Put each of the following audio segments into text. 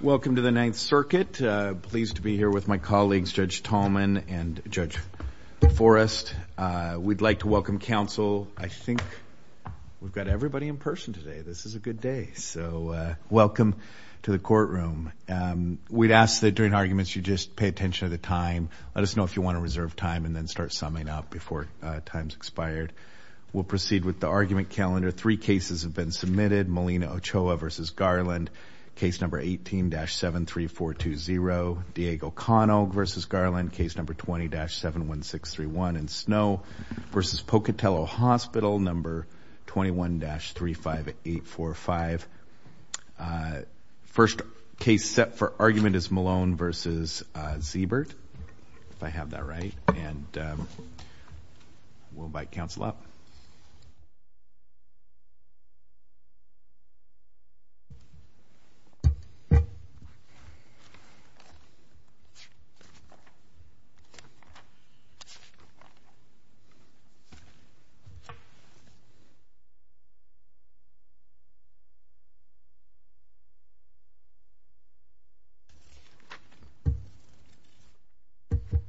Welcome to the Ninth Circuit, pleased to be here with my colleagues Judge Tallman and Judge Forrest. We'd like to welcome counsel. I think we've got everybody in person today. This is a good day, so welcome to the courtroom. We'd ask that during arguments you just pay attention to the time. Let us know if you want to reserve time and then start summing up before time's expired. We'll proceed with the argument calendar. Three cases have been submitted, Molina Ochoa v. Garland, case number 18-73420, Diego Conogue v. Garland, case number 20-71631 in Snow v. Pocatello Hospital, number 21-35845. First case set for argument is Malone v. Sziebert, if I have that right, and we'll invite counsel up.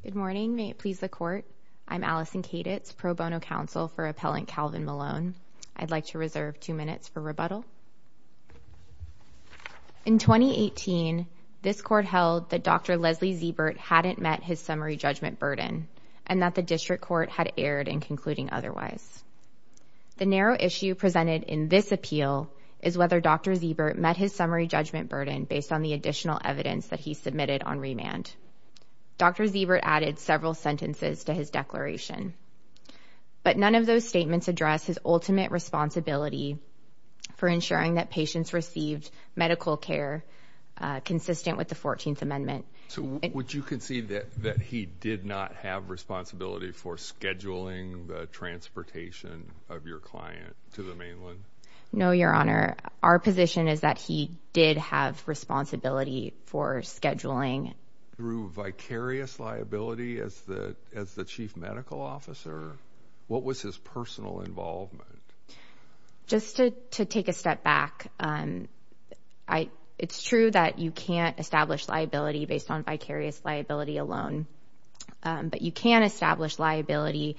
Good morning, may it please the court. I'm Allison Kaditz, pro bono counsel for appellant Calvin Malone. I'd like to reserve two minutes for rebuttal. In 2018, this court held that Dr. Leslie Sziebert hadn't met his summary judgment burden and that the district court had erred in concluding otherwise. The narrow issue presented in this appeal is whether Dr. Sziebert met his summary judgment burden based on the additional evidence that he submitted on remand. Dr. Sziebert added several sentences to his declaration, but none of those statements address his ultimate responsibility for ensuring that patients received medical care consistent with the 14th Amendment. So would you concede that he did not have responsibility for scheduling the transportation of your client to the mainland? No, Your Honor. Our position is that he did have responsibility for scheduling. Through vicarious liability as the chief medical officer? What was his personal involvement? Just to take a step back, it's true that you can't establish liability based on vicarious liability alone, but you can establish liability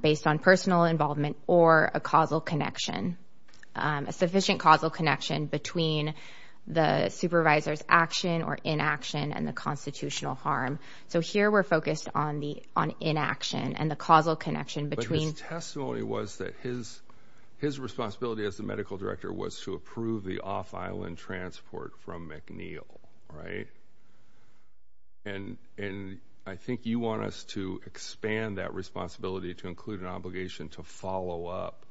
based on personal involvement or a causal connection, a sufficient causal connection between the supervisor's action or inaction and the constitutional harm. So here we're focused on inaction and the causal connection between. His testimony was that his responsibility as the medical director was to approve the off-island transport from McNeil, right? And I think you want us to expand that responsibility to include an obligation to follow up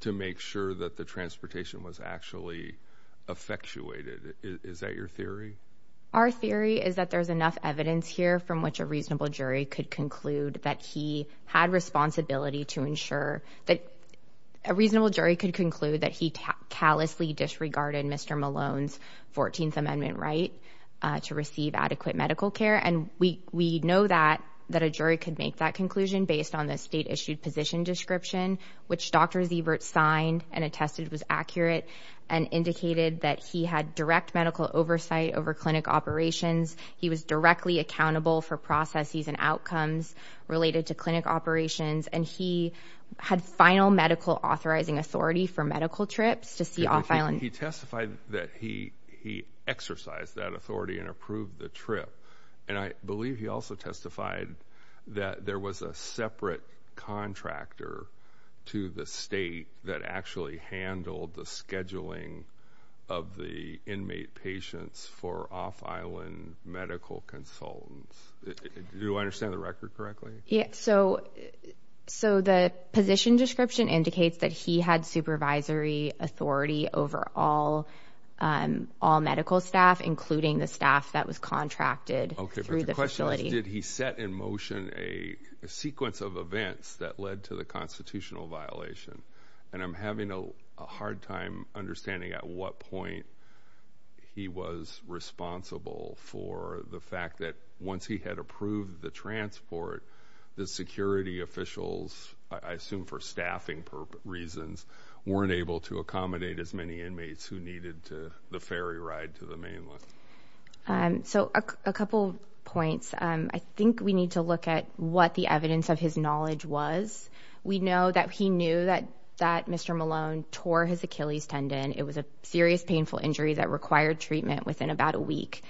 to make sure that the transportation was actually effectuated. Is that your theory? Our theory is that there's enough evidence here from which a reasonable jury could conclude that he had responsibility to ensure that a reasonable jury could conclude that he callously disregarded Mr. Malone's 14th Amendment right to receive adequate medical care. And we know that that a jury could make that conclusion based on the state issued position description, which Dr. Siebert signed and attested was accurate and indicated that he had direct medical oversight over clinic operations. He was directly accountable for processes and outcomes related to clinic operations. And he had final medical authorizing authority for medical trips to see off-island. He testified that he exercised that authority and approved the trip. And I believe he also testified that there was a separate contractor to the state that actually handled the scheduling of the inmate patients for off-island medical consultants. Do I understand the record correctly? So the position description indicates that he had supervisory authority over all medical staff, including the staff that was contracted through the facility. Did he set in motion a sequence of events that led to the constitutional violation? And I'm having a hard time understanding at what point he was responsible for the fact that once he had approved the transport, the security officials, I assume for staffing reasons, weren't able to accommodate as many inmates who needed to the ferry ride to the mainland. So a couple points. I think we need to look at what the evidence of his knowledge was. We know that he knew that Mr. Malone tore his Achilles tendon. It was a serious, painful injury that required treatment within about a week.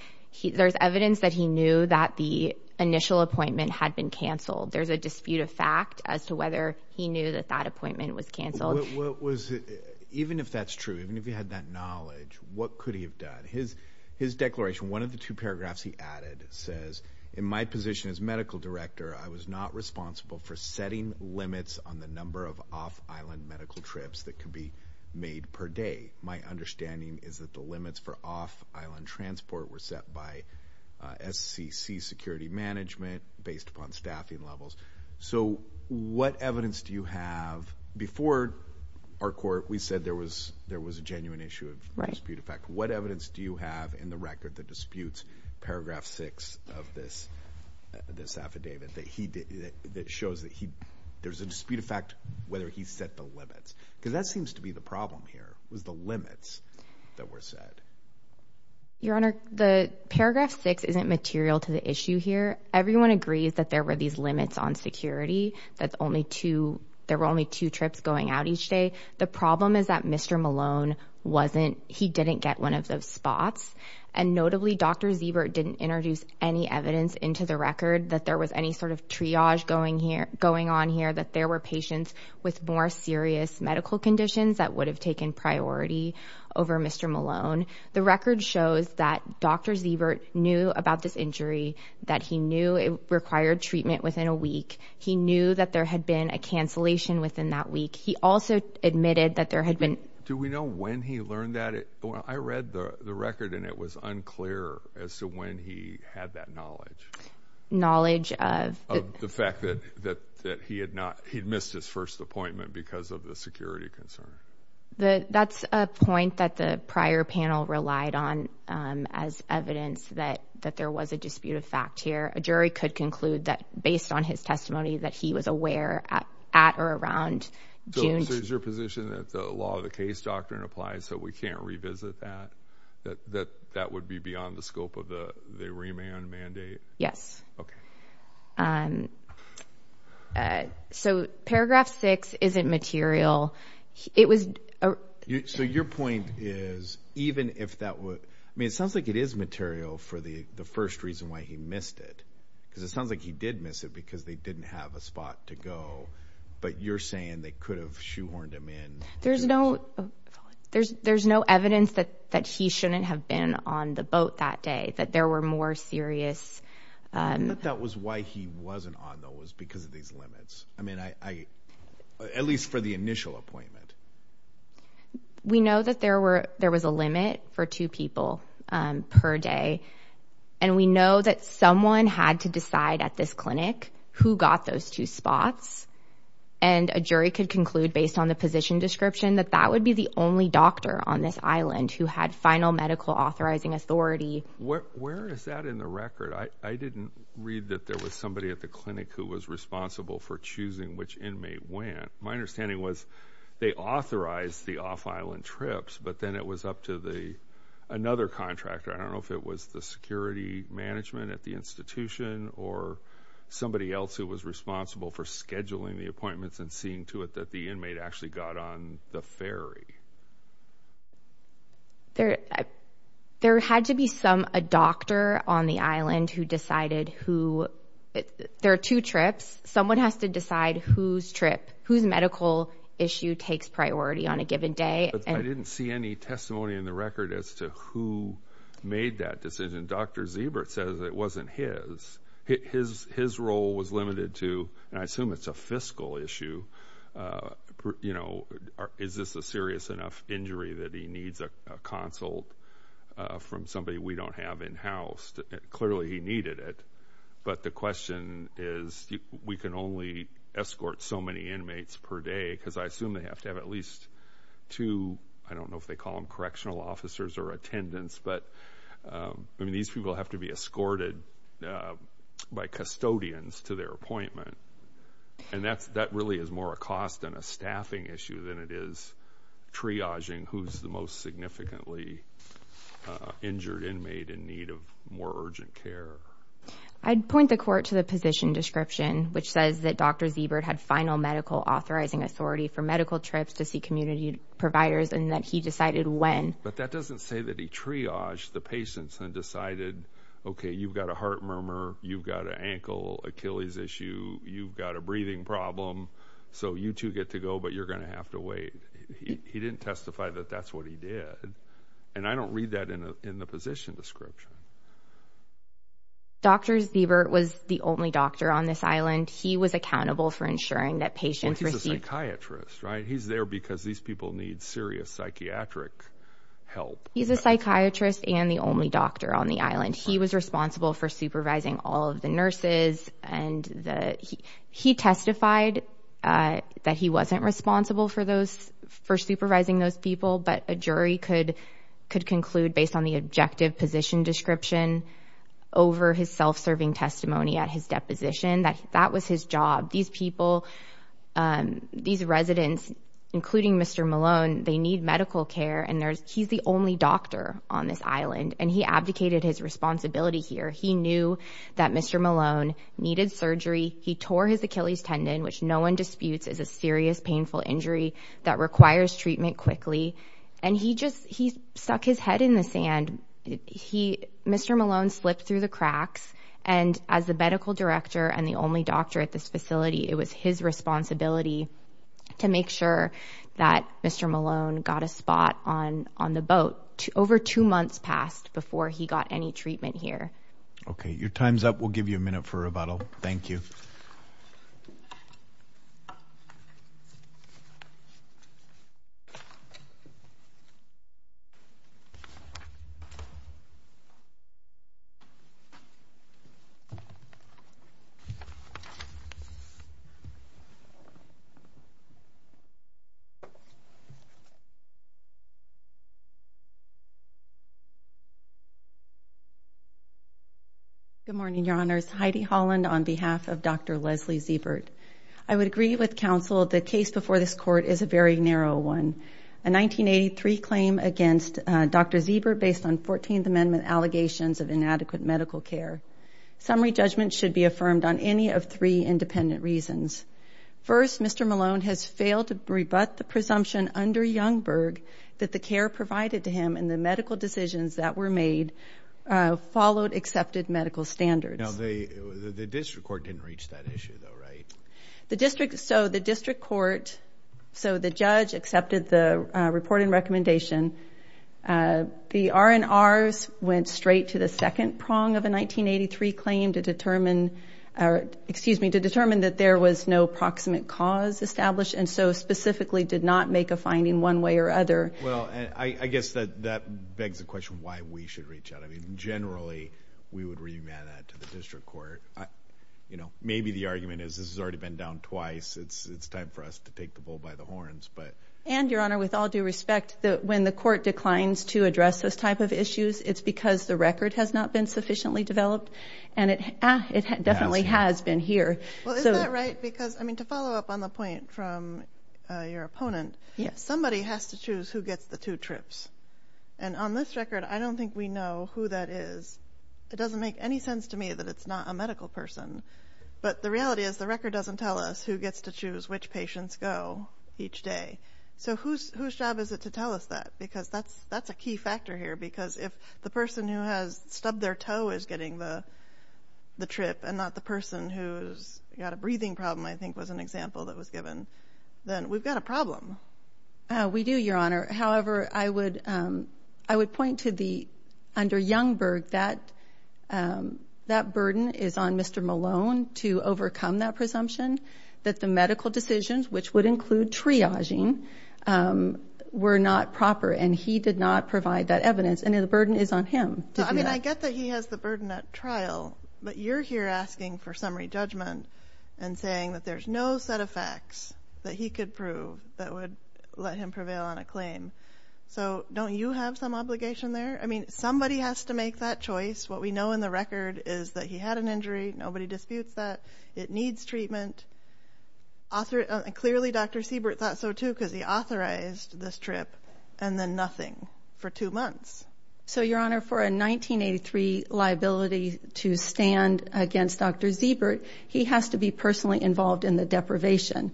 There's evidence that he knew that the initial appointment had been canceled. There's a dispute of fact as to whether he knew that that appointment was canceled. Even if that's true, even if he had that knowledge, what could he have done? His declaration, one of the two paragraphs he added says, in my position as medical director, I was not responsible for setting limits on the number of off-island medical trips that could be made per day. My understanding is that the limits for off-island transport were set by SCC security management based upon staffing levels. So what evidence do you have? Before our court, we said there was a genuine issue of dispute of fact. What evidence do you have in the record that disputes paragraph 6 of this affidavit that shows that there's a dispute of fact whether he set the limits? Because that seems to be the problem here, was the limits that were set. Your Honor, paragraph 6 isn't material to the issue here. Everyone agrees that there were these limits on security, that there were only two trips going out each day. The problem is that Mr. Malone wasn't, he didn't get one of those spots. And notably, Dr. Ziebert didn't introduce any evidence into the record that there was any sort of triage going on here, that there were patients with more serious medical conditions that would have taken priority over Mr. Malone. The record shows that Dr. Ziebert knew about this injury, that he knew it required treatment within a week. He knew that there had been a cancellation within that week. He also admitted that there had been- Do we know when he learned that? I read the record and it was unclear as to when he had that knowledge. Knowledge of- Of the fact that he had missed his first appointment because of the security concern. That's a point that the prior panel relied on as evidence that there was a dispute of fact here. A jury could conclude that based on his testimony that he was aware at or around June- So is your position that the law of the case doctrine applies so we can't revisit that? That that would be beyond the scope of the remand mandate? Yes. Okay. So paragraph six isn't material. It was- So your point is even if that would- I mean, it sounds like it is material for the first reason why he missed it. Because it sounds like he did miss it because they didn't have a spot to go. But you're saying they could have shoehorned him in. There's no evidence that he shouldn't have been on the boat that day, that there were more serious- The limit that was why he wasn't on, though, was because of these limits. I mean, at least for the initial appointment. We know that there was a limit for two people per day. And we know that someone had to decide at this clinic who got those two spots. And a jury could conclude based on the position description that that would be the only doctor on this island who had final medical authorizing authority. Where is that in the record? I didn't read that there was somebody at the clinic who was responsible for choosing which inmate went. My understanding was they authorized the off-island trips, but then it was up to another contractor. I don't know if it was the security management at the institution or somebody else who was responsible for scheduling the appointments and seeing to it that the inmate actually got on the ferry. There had to be a doctor on the island who decided who- There are two trips. Someone has to decide whose medical issue takes priority on a given day. I didn't see any testimony in the record as to who made that decision. Dr. Ziebert says it wasn't his. His role was limited to- and I assume it's a fiscal issue. Is this a serious enough injury that he needs a consult from somebody we don't have in-house? Clearly he needed it, but the question is we can only escort so many inmates per day because I assume they have to have at least two- I don't know if they call them correctional officers or attendants, but these people have to be escorted by custodians to their appointment. That really is more a cost and a staffing issue than it is triaging who's the most significantly injured inmate in need of more urgent care. I'd point the court to the position description, which says that Dr. Ziebert had final medical authorizing authority for medical trips to see community providers and that he decided when. But that doesn't say that he triaged the patients and decided, okay, you've got a heart murmur, you've got an ankle Achilles issue, you've got a breathing problem, so you two get to go, but you're going to have to wait. He didn't testify that that's what he did, and I don't read that in the position description. Dr. Ziebert was the only doctor on this island. He was accountable for ensuring that patients received- Well, he's a psychiatrist, right? He's there because these people need serious psychiatric help. He's a psychiatrist and the only doctor on the island. He was responsible for supervising all of the nurses, and he testified that he wasn't responsible for supervising those people, but a jury could conclude based on the objective position description over his self-serving testimony at his deposition that that was his job. These people, these residents, including Mr. Malone, they need medical care, and he's the only doctor on this island, and he abdicated his responsibility here. He knew that Mr. Malone needed surgery. He tore his Achilles tendon, which no one disputes is a serious painful injury that requires treatment quickly, and he just stuck his head in the sand. Mr. Malone slipped through the cracks, and as the medical director and the only doctor at this facility, it was his responsibility to make sure that Mr. Malone got a spot on the boat. Over two months passed before he got any treatment here. Okay, your time's up. We'll give you a minute for rebuttal. Thank you. Good morning, Your Honors. Heidi Holland on behalf of Dr. Leslie Ziebert. I would agree with counsel the case before this court is a very narrow one, a 1983 claim against Dr. Ziebert based on 14th Amendment allegations of inadequate medical care. Summary judgment should be affirmed on any of three independent reasons. First, Mr. Malone has failed to rebut the presumption under Youngberg that the care provided to him and the medical decisions that were made followed accepted medical standards. Now, the district court didn't reach that issue, though, right? The district court, so the judge accepted the report and recommendation. The R&Rs went straight to the second prong of a 1983 claim to determine that there was no proximate cause established and so specifically did not make a finding one way or other. Well, I guess that begs the question why we should reach out. I mean, generally, we would remand that to the district court. You know, maybe the argument is this has already been down twice. It's time for us to take the bull by the horns. And, Your Honor, with all due respect, when the court declines to address this type of issues, it's because the record has not been sufficiently developed. And it definitely has been here. Well, is that right? Because, I mean, to follow up on the point from your opponent, somebody has to choose who gets the two trips. And on this record, I don't think we know who that is. It doesn't make any sense to me that it's not a medical person. But the reality is the record doesn't tell us who gets to choose which patients go each day. So whose job is it to tell us that? Because that's a key factor here because if the person who has stubbed their toe is getting the trip and not the person who's got a breathing problem, I think, was an example that was given, then we've got a problem. We do, Your Honor. However, I would point to under Youngberg that that burden is on Mr. Malone to overcome that presumption, that the medical decisions, which would include triaging, were not proper, and he did not provide that evidence. And the burden is on him to do that. I mean, I get that he has the burden at trial, but you're here asking for summary judgment and saying that there's no set of facts that he could prove that would let him prevail on a claim. So don't you have some obligation there? I mean, somebody has to make that choice. What we know in the record is that he had an injury. Nobody disputes that. It needs treatment. Clearly, Dr. Siebert thought so too because he authorized this trip and then nothing for two months. So, Your Honor, for a 1983 liability to stand against Dr. Siebert, he has to be personally involved in the deprivation.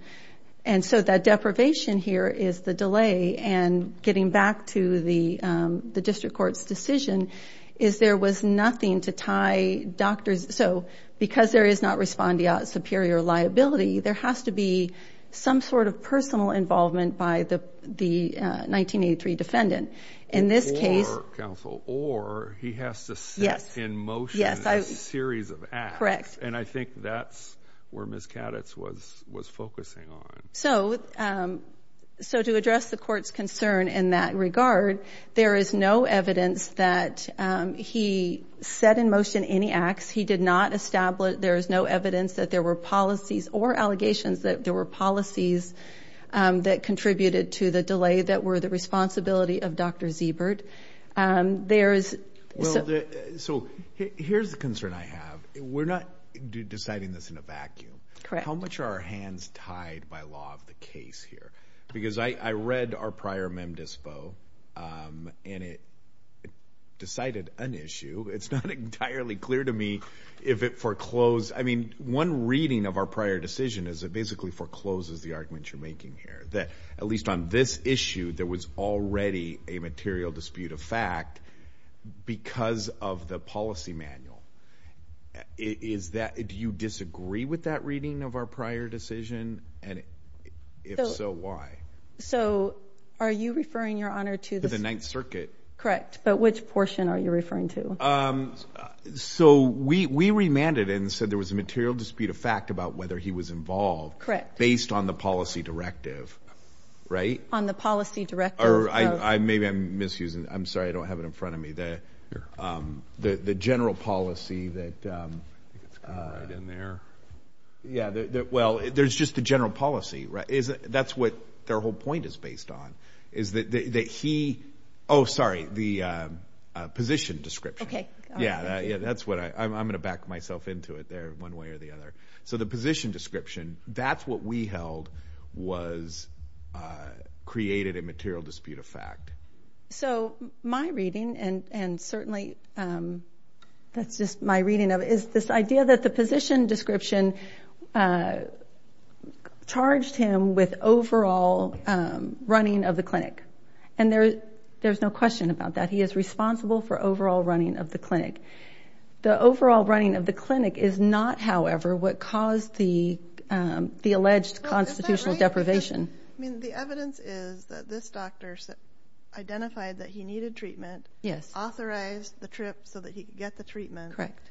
And so that deprivation here is the delay, and getting back to the district court's decision, is there was nothing to tie Dr. So because there is not respondeat superior liability, there has to be some sort of personal involvement by the 1983 defendant. In this case. Or, counsel, or he has to set in motion a series of acts. Correct. And I think that's where Ms. Kaditz was focusing on. So to address the court's concern in that regard, there is no evidence that he set in motion any acts. He did not establish. There is no evidence that there were policies or allegations that there were policies that contributed to the delay that were the responsibility of Dr. Siebert. There is. So here's the concern I have. We're not deciding this in a vacuum. Correct. How much are our hands tied by law of the case here? Because I read our prior mem dispo and it decided an issue. It's not entirely clear to me if it foreclosed. I mean, one reading of our prior decision is it basically forecloses the argument you're making here. That at least on this issue, there was already a material dispute of fact because of the policy manual. Is that, do you disagree with that reading of our prior decision? And if so, why? So are you referring, Your Honor, to the. The Ninth Circuit. Correct. But which portion are you referring to? So we remanded and said there was a material dispute of fact about whether he was involved. Correct. Based on the policy directive. Right. On the policy directive. Or maybe I'm misusing. I'm sorry. I don't have it in front of me. The general policy that. Right in there. Yeah. Well, there's just the general policy. That's what their whole point is based on. Is that he, oh, sorry, the position description. Okay. Yeah, that's what I, I'm going to back myself into it there one way or the other. So the position description, that's what we held was created a material dispute of fact. So my reading, and certainly that's just my reading of it, was this idea that the position description charged him with overall running of the clinic. And there's no question about that. He is responsible for overall running of the clinic. The overall running of the clinic is not, however, what caused the alleged constitutional deprivation. I mean, the evidence is that this doctor identified that he needed treatment. Yes. Authorized the trip so that he could get the treatment. Correct.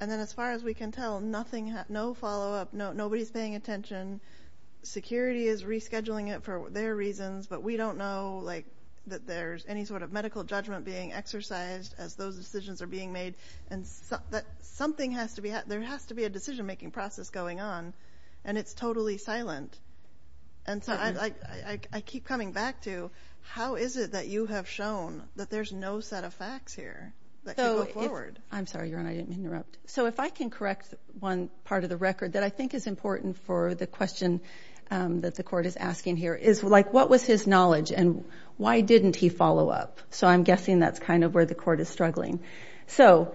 And then as far as we can tell, nothing, no follow-up, nobody's paying attention. Security is rescheduling it for their reasons, but we don't know, like, that there's any sort of medical judgment being exercised as those decisions are being made. And something has to be, there has to be a decision-making process going on, and it's totally silent. And so I keep coming back to, how is it that you have shown that there's no set of facts here that can go forward? I'm sorry, Your Honor, I didn't interrupt. So if I can correct one part of the record that I think is important for the question that the court is asking here, is, like, what was his knowledge, and why didn't he follow up? So I'm guessing that's kind of where the court is struggling. So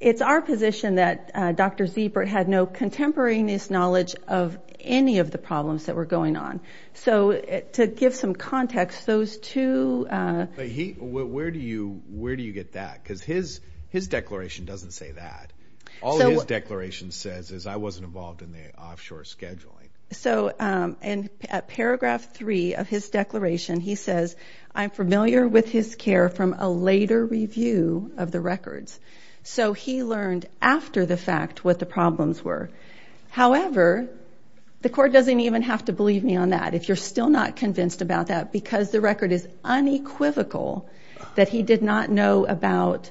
it's our position that Dr. Ziebert had no contemporaneous knowledge of any of the problems that were going on. So to give some context, those two. But where do you get that? Because his declaration doesn't say that. All his declaration says is, I wasn't involved in the offshore scheduling. So in Paragraph 3 of his declaration, he says, I'm familiar with his care from a later review of the records. So he learned after the fact what the problems were. However, the court doesn't even have to believe me on that, if you're still not convinced about that, because the record is unequivocal that he did not know about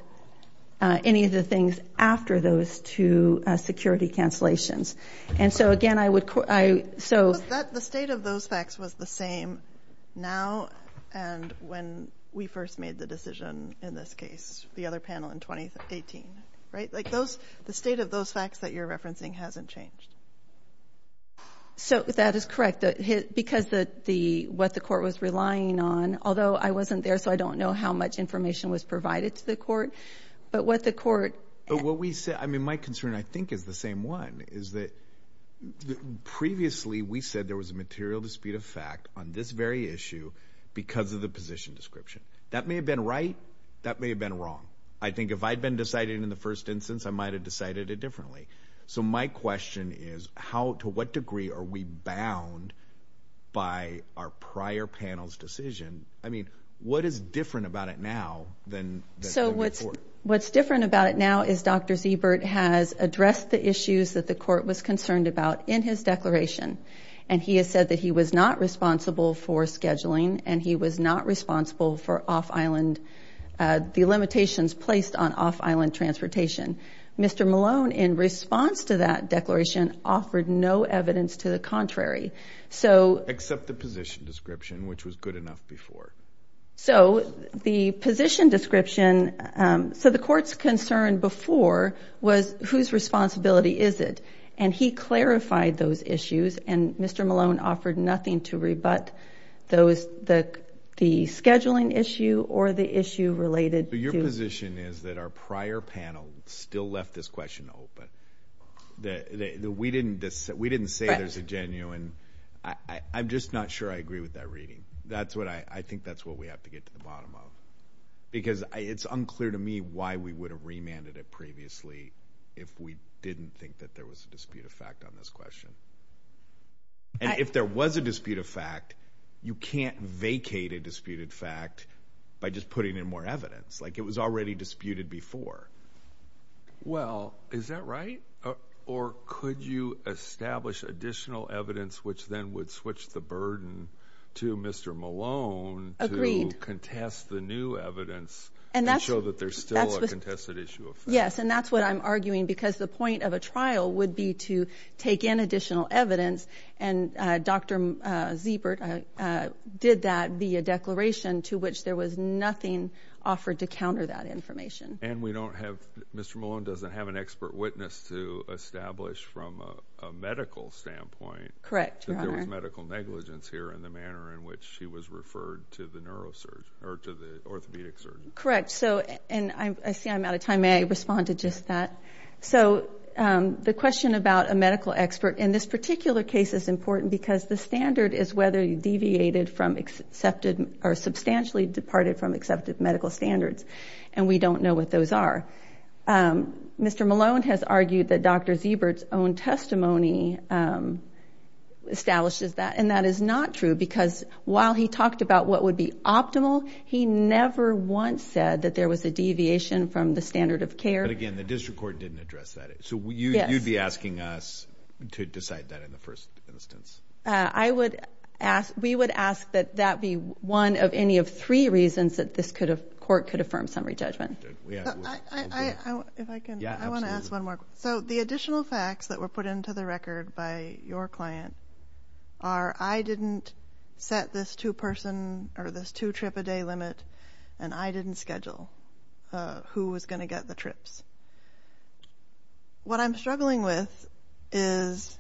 any of the things after those two security cancellations. And so, again, I would ‑‑ So the state of those facts was the same now and when we first made the decision in this case, the other panel in 2018, right? Like, the state of those facts that you're referencing hasn't changed. So that is correct. Because what the court was relying on, although I wasn't there, so I don't know how much information was provided to the court, but what the court ‑‑ My concern, I think, is the same one, is that previously we said there was a material dispute of fact on this very issue because of the position description. That may have been right. That may have been wrong. I think if I had been deciding in the first instance, I might have decided it differently. So my question is, to what degree are we bound by our prior panel's decision? I mean, what is different about it now than the court? What's different about it now is Dr. Siebert has addressed the issues that the court was concerned about in his declaration, and he has said that he was not responsible for scheduling and he was not responsible for off‑island, the limitations placed on off‑island transportation. Mr. Malone, in response to that declaration, offered no evidence to the contrary. Except the position description, which was good enough before. So the position description, so the court's concern before was whose responsibility is it? And he clarified those issues, and Mr. Malone offered nothing to rebut the scheduling issue or the issue related to ‑‑ Your position is that our prior panel still left this question open. We didn't say there's a genuine. I'm just not sure I agree with that reading. I think that's what we have to get to the bottom of. Because it's unclear to me why we would have remanded it previously if we didn't think that there was a dispute of fact on this question. And if there was a dispute of fact, you can't vacate a disputed fact by just putting in more evidence. Like, it was already disputed before. Well, is that right? Or could you establish additional evidence, which then would switch the burden to Mr. Malone to contest the new evidence and show that there's still a contested issue of fact? Yes, and that's what I'm arguing, because the point of a trial would be to take in additional evidence, and Dr. Siebert did that via declaration, to which there was nothing offered to counter that information. And we don't have Mr. Malone doesn't have an expert witness to establish from a medical standpoint. Correct. That there was medical negligence here in the manner in which he was referred to the orthopedic surgeon. Correct. And I see I'm out of time. May I respond to just that? So the question about a medical expert in this particular case is important, because the standard is whether you deviated from accepted or substantially departed from accepted medical standards. And we don't know what those are. Mr. Malone has argued that Dr. Siebert's own testimony establishes that. And that is not true, because while he talked about what would be optimal, he never once said that there was a deviation from the standard of care. But, again, the district court didn't address that. So you'd be asking us to decide that in the first instance. We would ask that that be one of any of three reasons that this court could affirm summary judgment. If I can, I want to ask one more question. So the additional facts that were put into the record by your client are, I didn't set this two-person or this two-trip-a-day limit, and I didn't schedule who was going to get the trips. What I'm struggling with is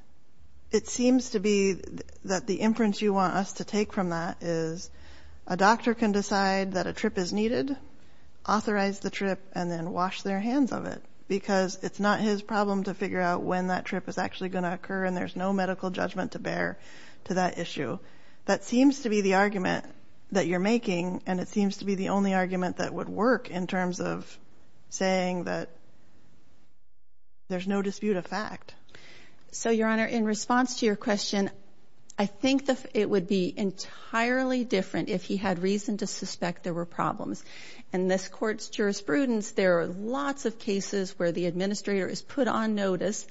it seems to be that the inference you want us to take from that is a doctor can decide that a trip is needed, authorize the trip, and then wash their hands of it, because it's not his problem to figure out when that trip is actually going to occur, and there's no medical judgment to bear to that issue. That seems to be the argument that you're making, and it seems to be the only argument that would work in terms of saying that there's no dispute of fact. So, Your Honor, in response to your question, I think it would be entirely different if he had reason to suspect there were problems. In this court's jurisprudence, there are lots of cases where the administrator is put on notice.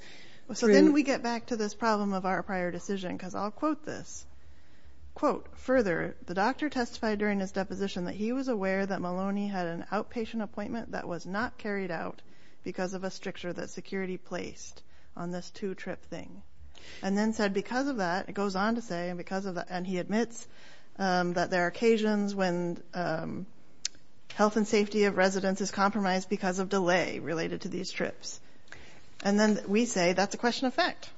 So then we get back to this problem of our prior decision, because I'll quote this. Quote, further, the doctor testified during his deposition that he was aware that Maloney had an outpatient appointment that was not carried out because of a stricture that security placed on this two-trip thing, and then said because of that, it goes on to say, and he admits that there are occasions when health and safety of residents is compromised because of delay related to these trips. And then we say that's a question of fact.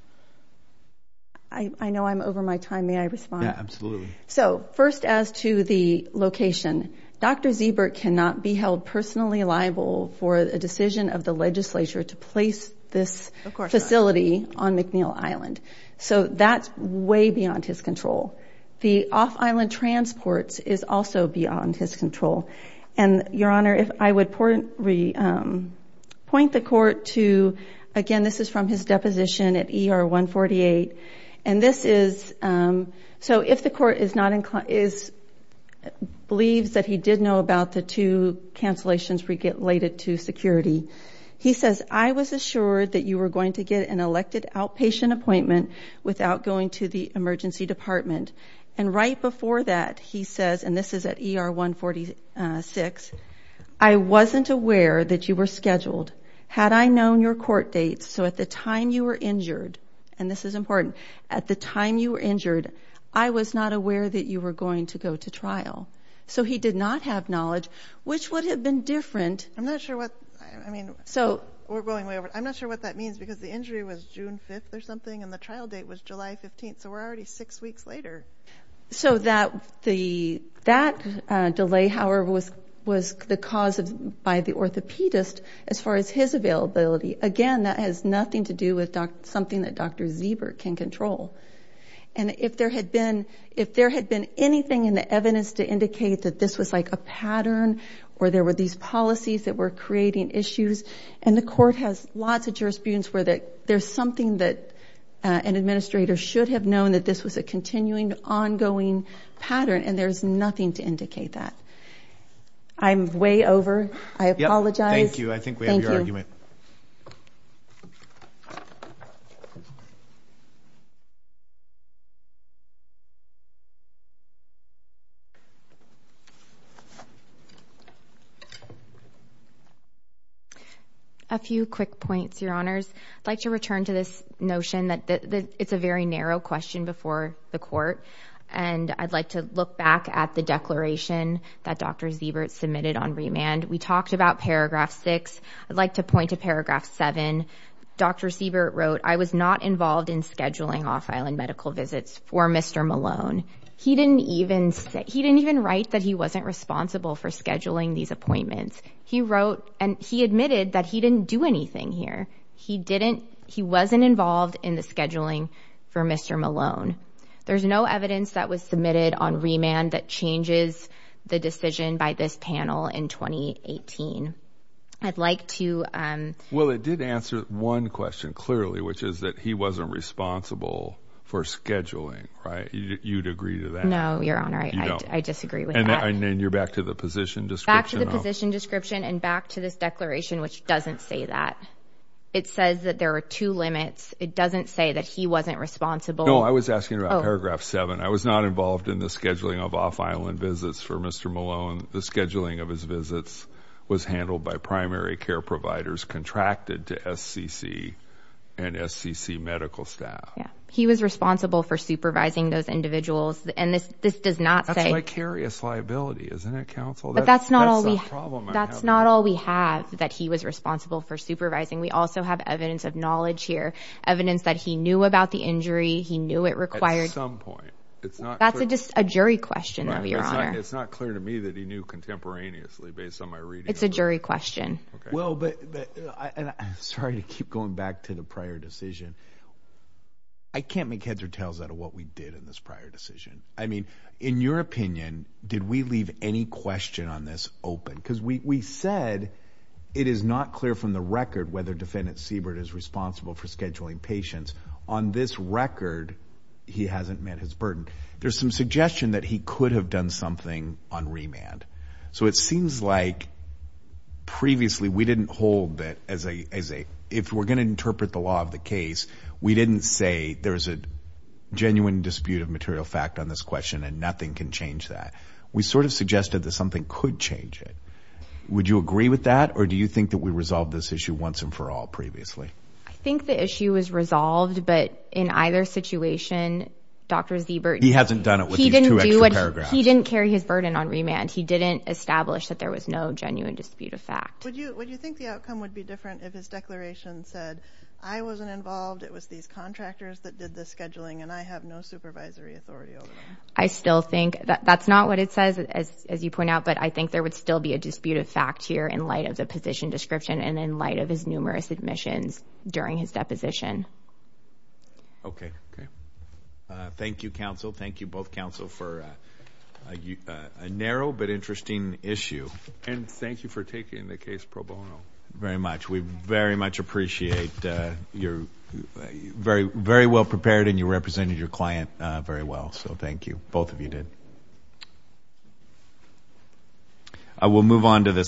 I know I'm over my time. May I respond? Yeah, absolutely. So, first as to the location, Dr. Ziebert cannot be held personally liable for a decision of the legislature to place this facility on McNeil Island. So that's way beyond his control. The off-island transports is also beyond his control. And, Your Honor, if I would point the court to, again, this is from his deposition at ER 148, and this is, so if the court believes that he did know about the two cancellations related to security, he says, I was assured that you were going to get an elected outpatient appointment without going to the emergency department. And right before that, he says, and this is at ER 146, I wasn't aware that you were scheduled. Had I known your court dates, so at the time you were injured, and this is important, at the time you were injured, I was not aware that you were going to go to trial. So he did not have knowledge, which would have been different. I'm not sure what, I mean, we're going way over. I'm not sure what that means because the injury was June 5th or something, and the trial date was July 15th, so we're already six weeks later. So that delay, however, was the cause by the orthopedist as far as his availability. Again, that has nothing to do with something that Dr. Ziebert can control. And if there had been anything in the evidence to indicate that this was like a pattern or there were these policies that were creating issues, and the court has lots of jurisprudence where there's something that an administrator should have known that this was a continuing, ongoing pattern, and there's nothing to indicate that. I'm way over. I apologize. Thank you. I think we have your argument. A few quick points, Your Honors. I'd like to return to this notion that it's a very narrow question before the court, and I'd like to look back at the declaration that Dr. Ziebert submitted on remand. We talked about Paragraph 6. I'd like to point to Paragraph 7. Dr. Ziebert wrote, I was not involved in scheduling off-island medical visits for Mr. Malone. He didn't even write that he wasn't responsible for scheduling these appointments. He wrote and he admitted that he didn't do anything here. He wasn't involved in the scheduling for Mr. Malone. There's no evidence that was submitted on remand that changes the decision by this panel in 2018. I'd like to— Well, it did answer one question clearly, which is that he wasn't responsible for scheduling, right? You'd agree to that? No, Your Honor, I disagree with that. And then you're back to the position description? Back to the position description and back to this declaration, which doesn't say that. It says that there are two limits. It doesn't say that he wasn't responsible. No, I was asking about Paragraph 7. I was not involved in the scheduling of off-island visits for Mr. Malone. The scheduling of his visits was handled by primary care providers contracted to SCC and SCC medical staff. He was responsible for supervising those individuals. And this does not say— That's vicarious liability, isn't it, counsel? But that's not all we have that he was responsible for supervising. At some point. That's just a jury question, though, Your Honor. It's not clear to me that he knew contemporaneously based on my reading. It's a jury question. Well, but—and I'm sorry to keep going back to the prior decision. I can't make heads or tails out of what we did in this prior decision. I mean, in your opinion, did we leave any question on this open? Because we said it is not clear from the record whether Defendant Siebert is responsible for scheduling patients. On this record, he hasn't met his burden. There's some suggestion that he could have done something on remand. So it seems like previously we didn't hold that as a—if we're going to interpret the law of the case, we didn't say there's a genuine dispute of material fact on this question and nothing can change that. We sort of suggested that something could change it. Would you agree with that, or do you think that we resolved this issue once and for all previously? I think the issue was resolved, but in either situation, Dr. Siebert— He hasn't done it with these two extra paragraphs. He didn't carry his burden on remand. He didn't establish that there was no genuine dispute of fact. Would you think the outcome would be different if his declaration said, I wasn't involved, it was these contractors that did the scheduling, and I have no supervisory authority over it? I still think—that's not what it says, as you point out, but I think there would still be a dispute of fact here in light of the position description and in light of his numerous admissions during his deposition. Okay. Thank you, counsel. Thank you, both counsel, for a narrow but interesting issue. And thank you for taking the case pro bono. Very much. We very much appreciate your—very well prepared, and you represented your client very well, so thank you. Both of you did. I will move on to this.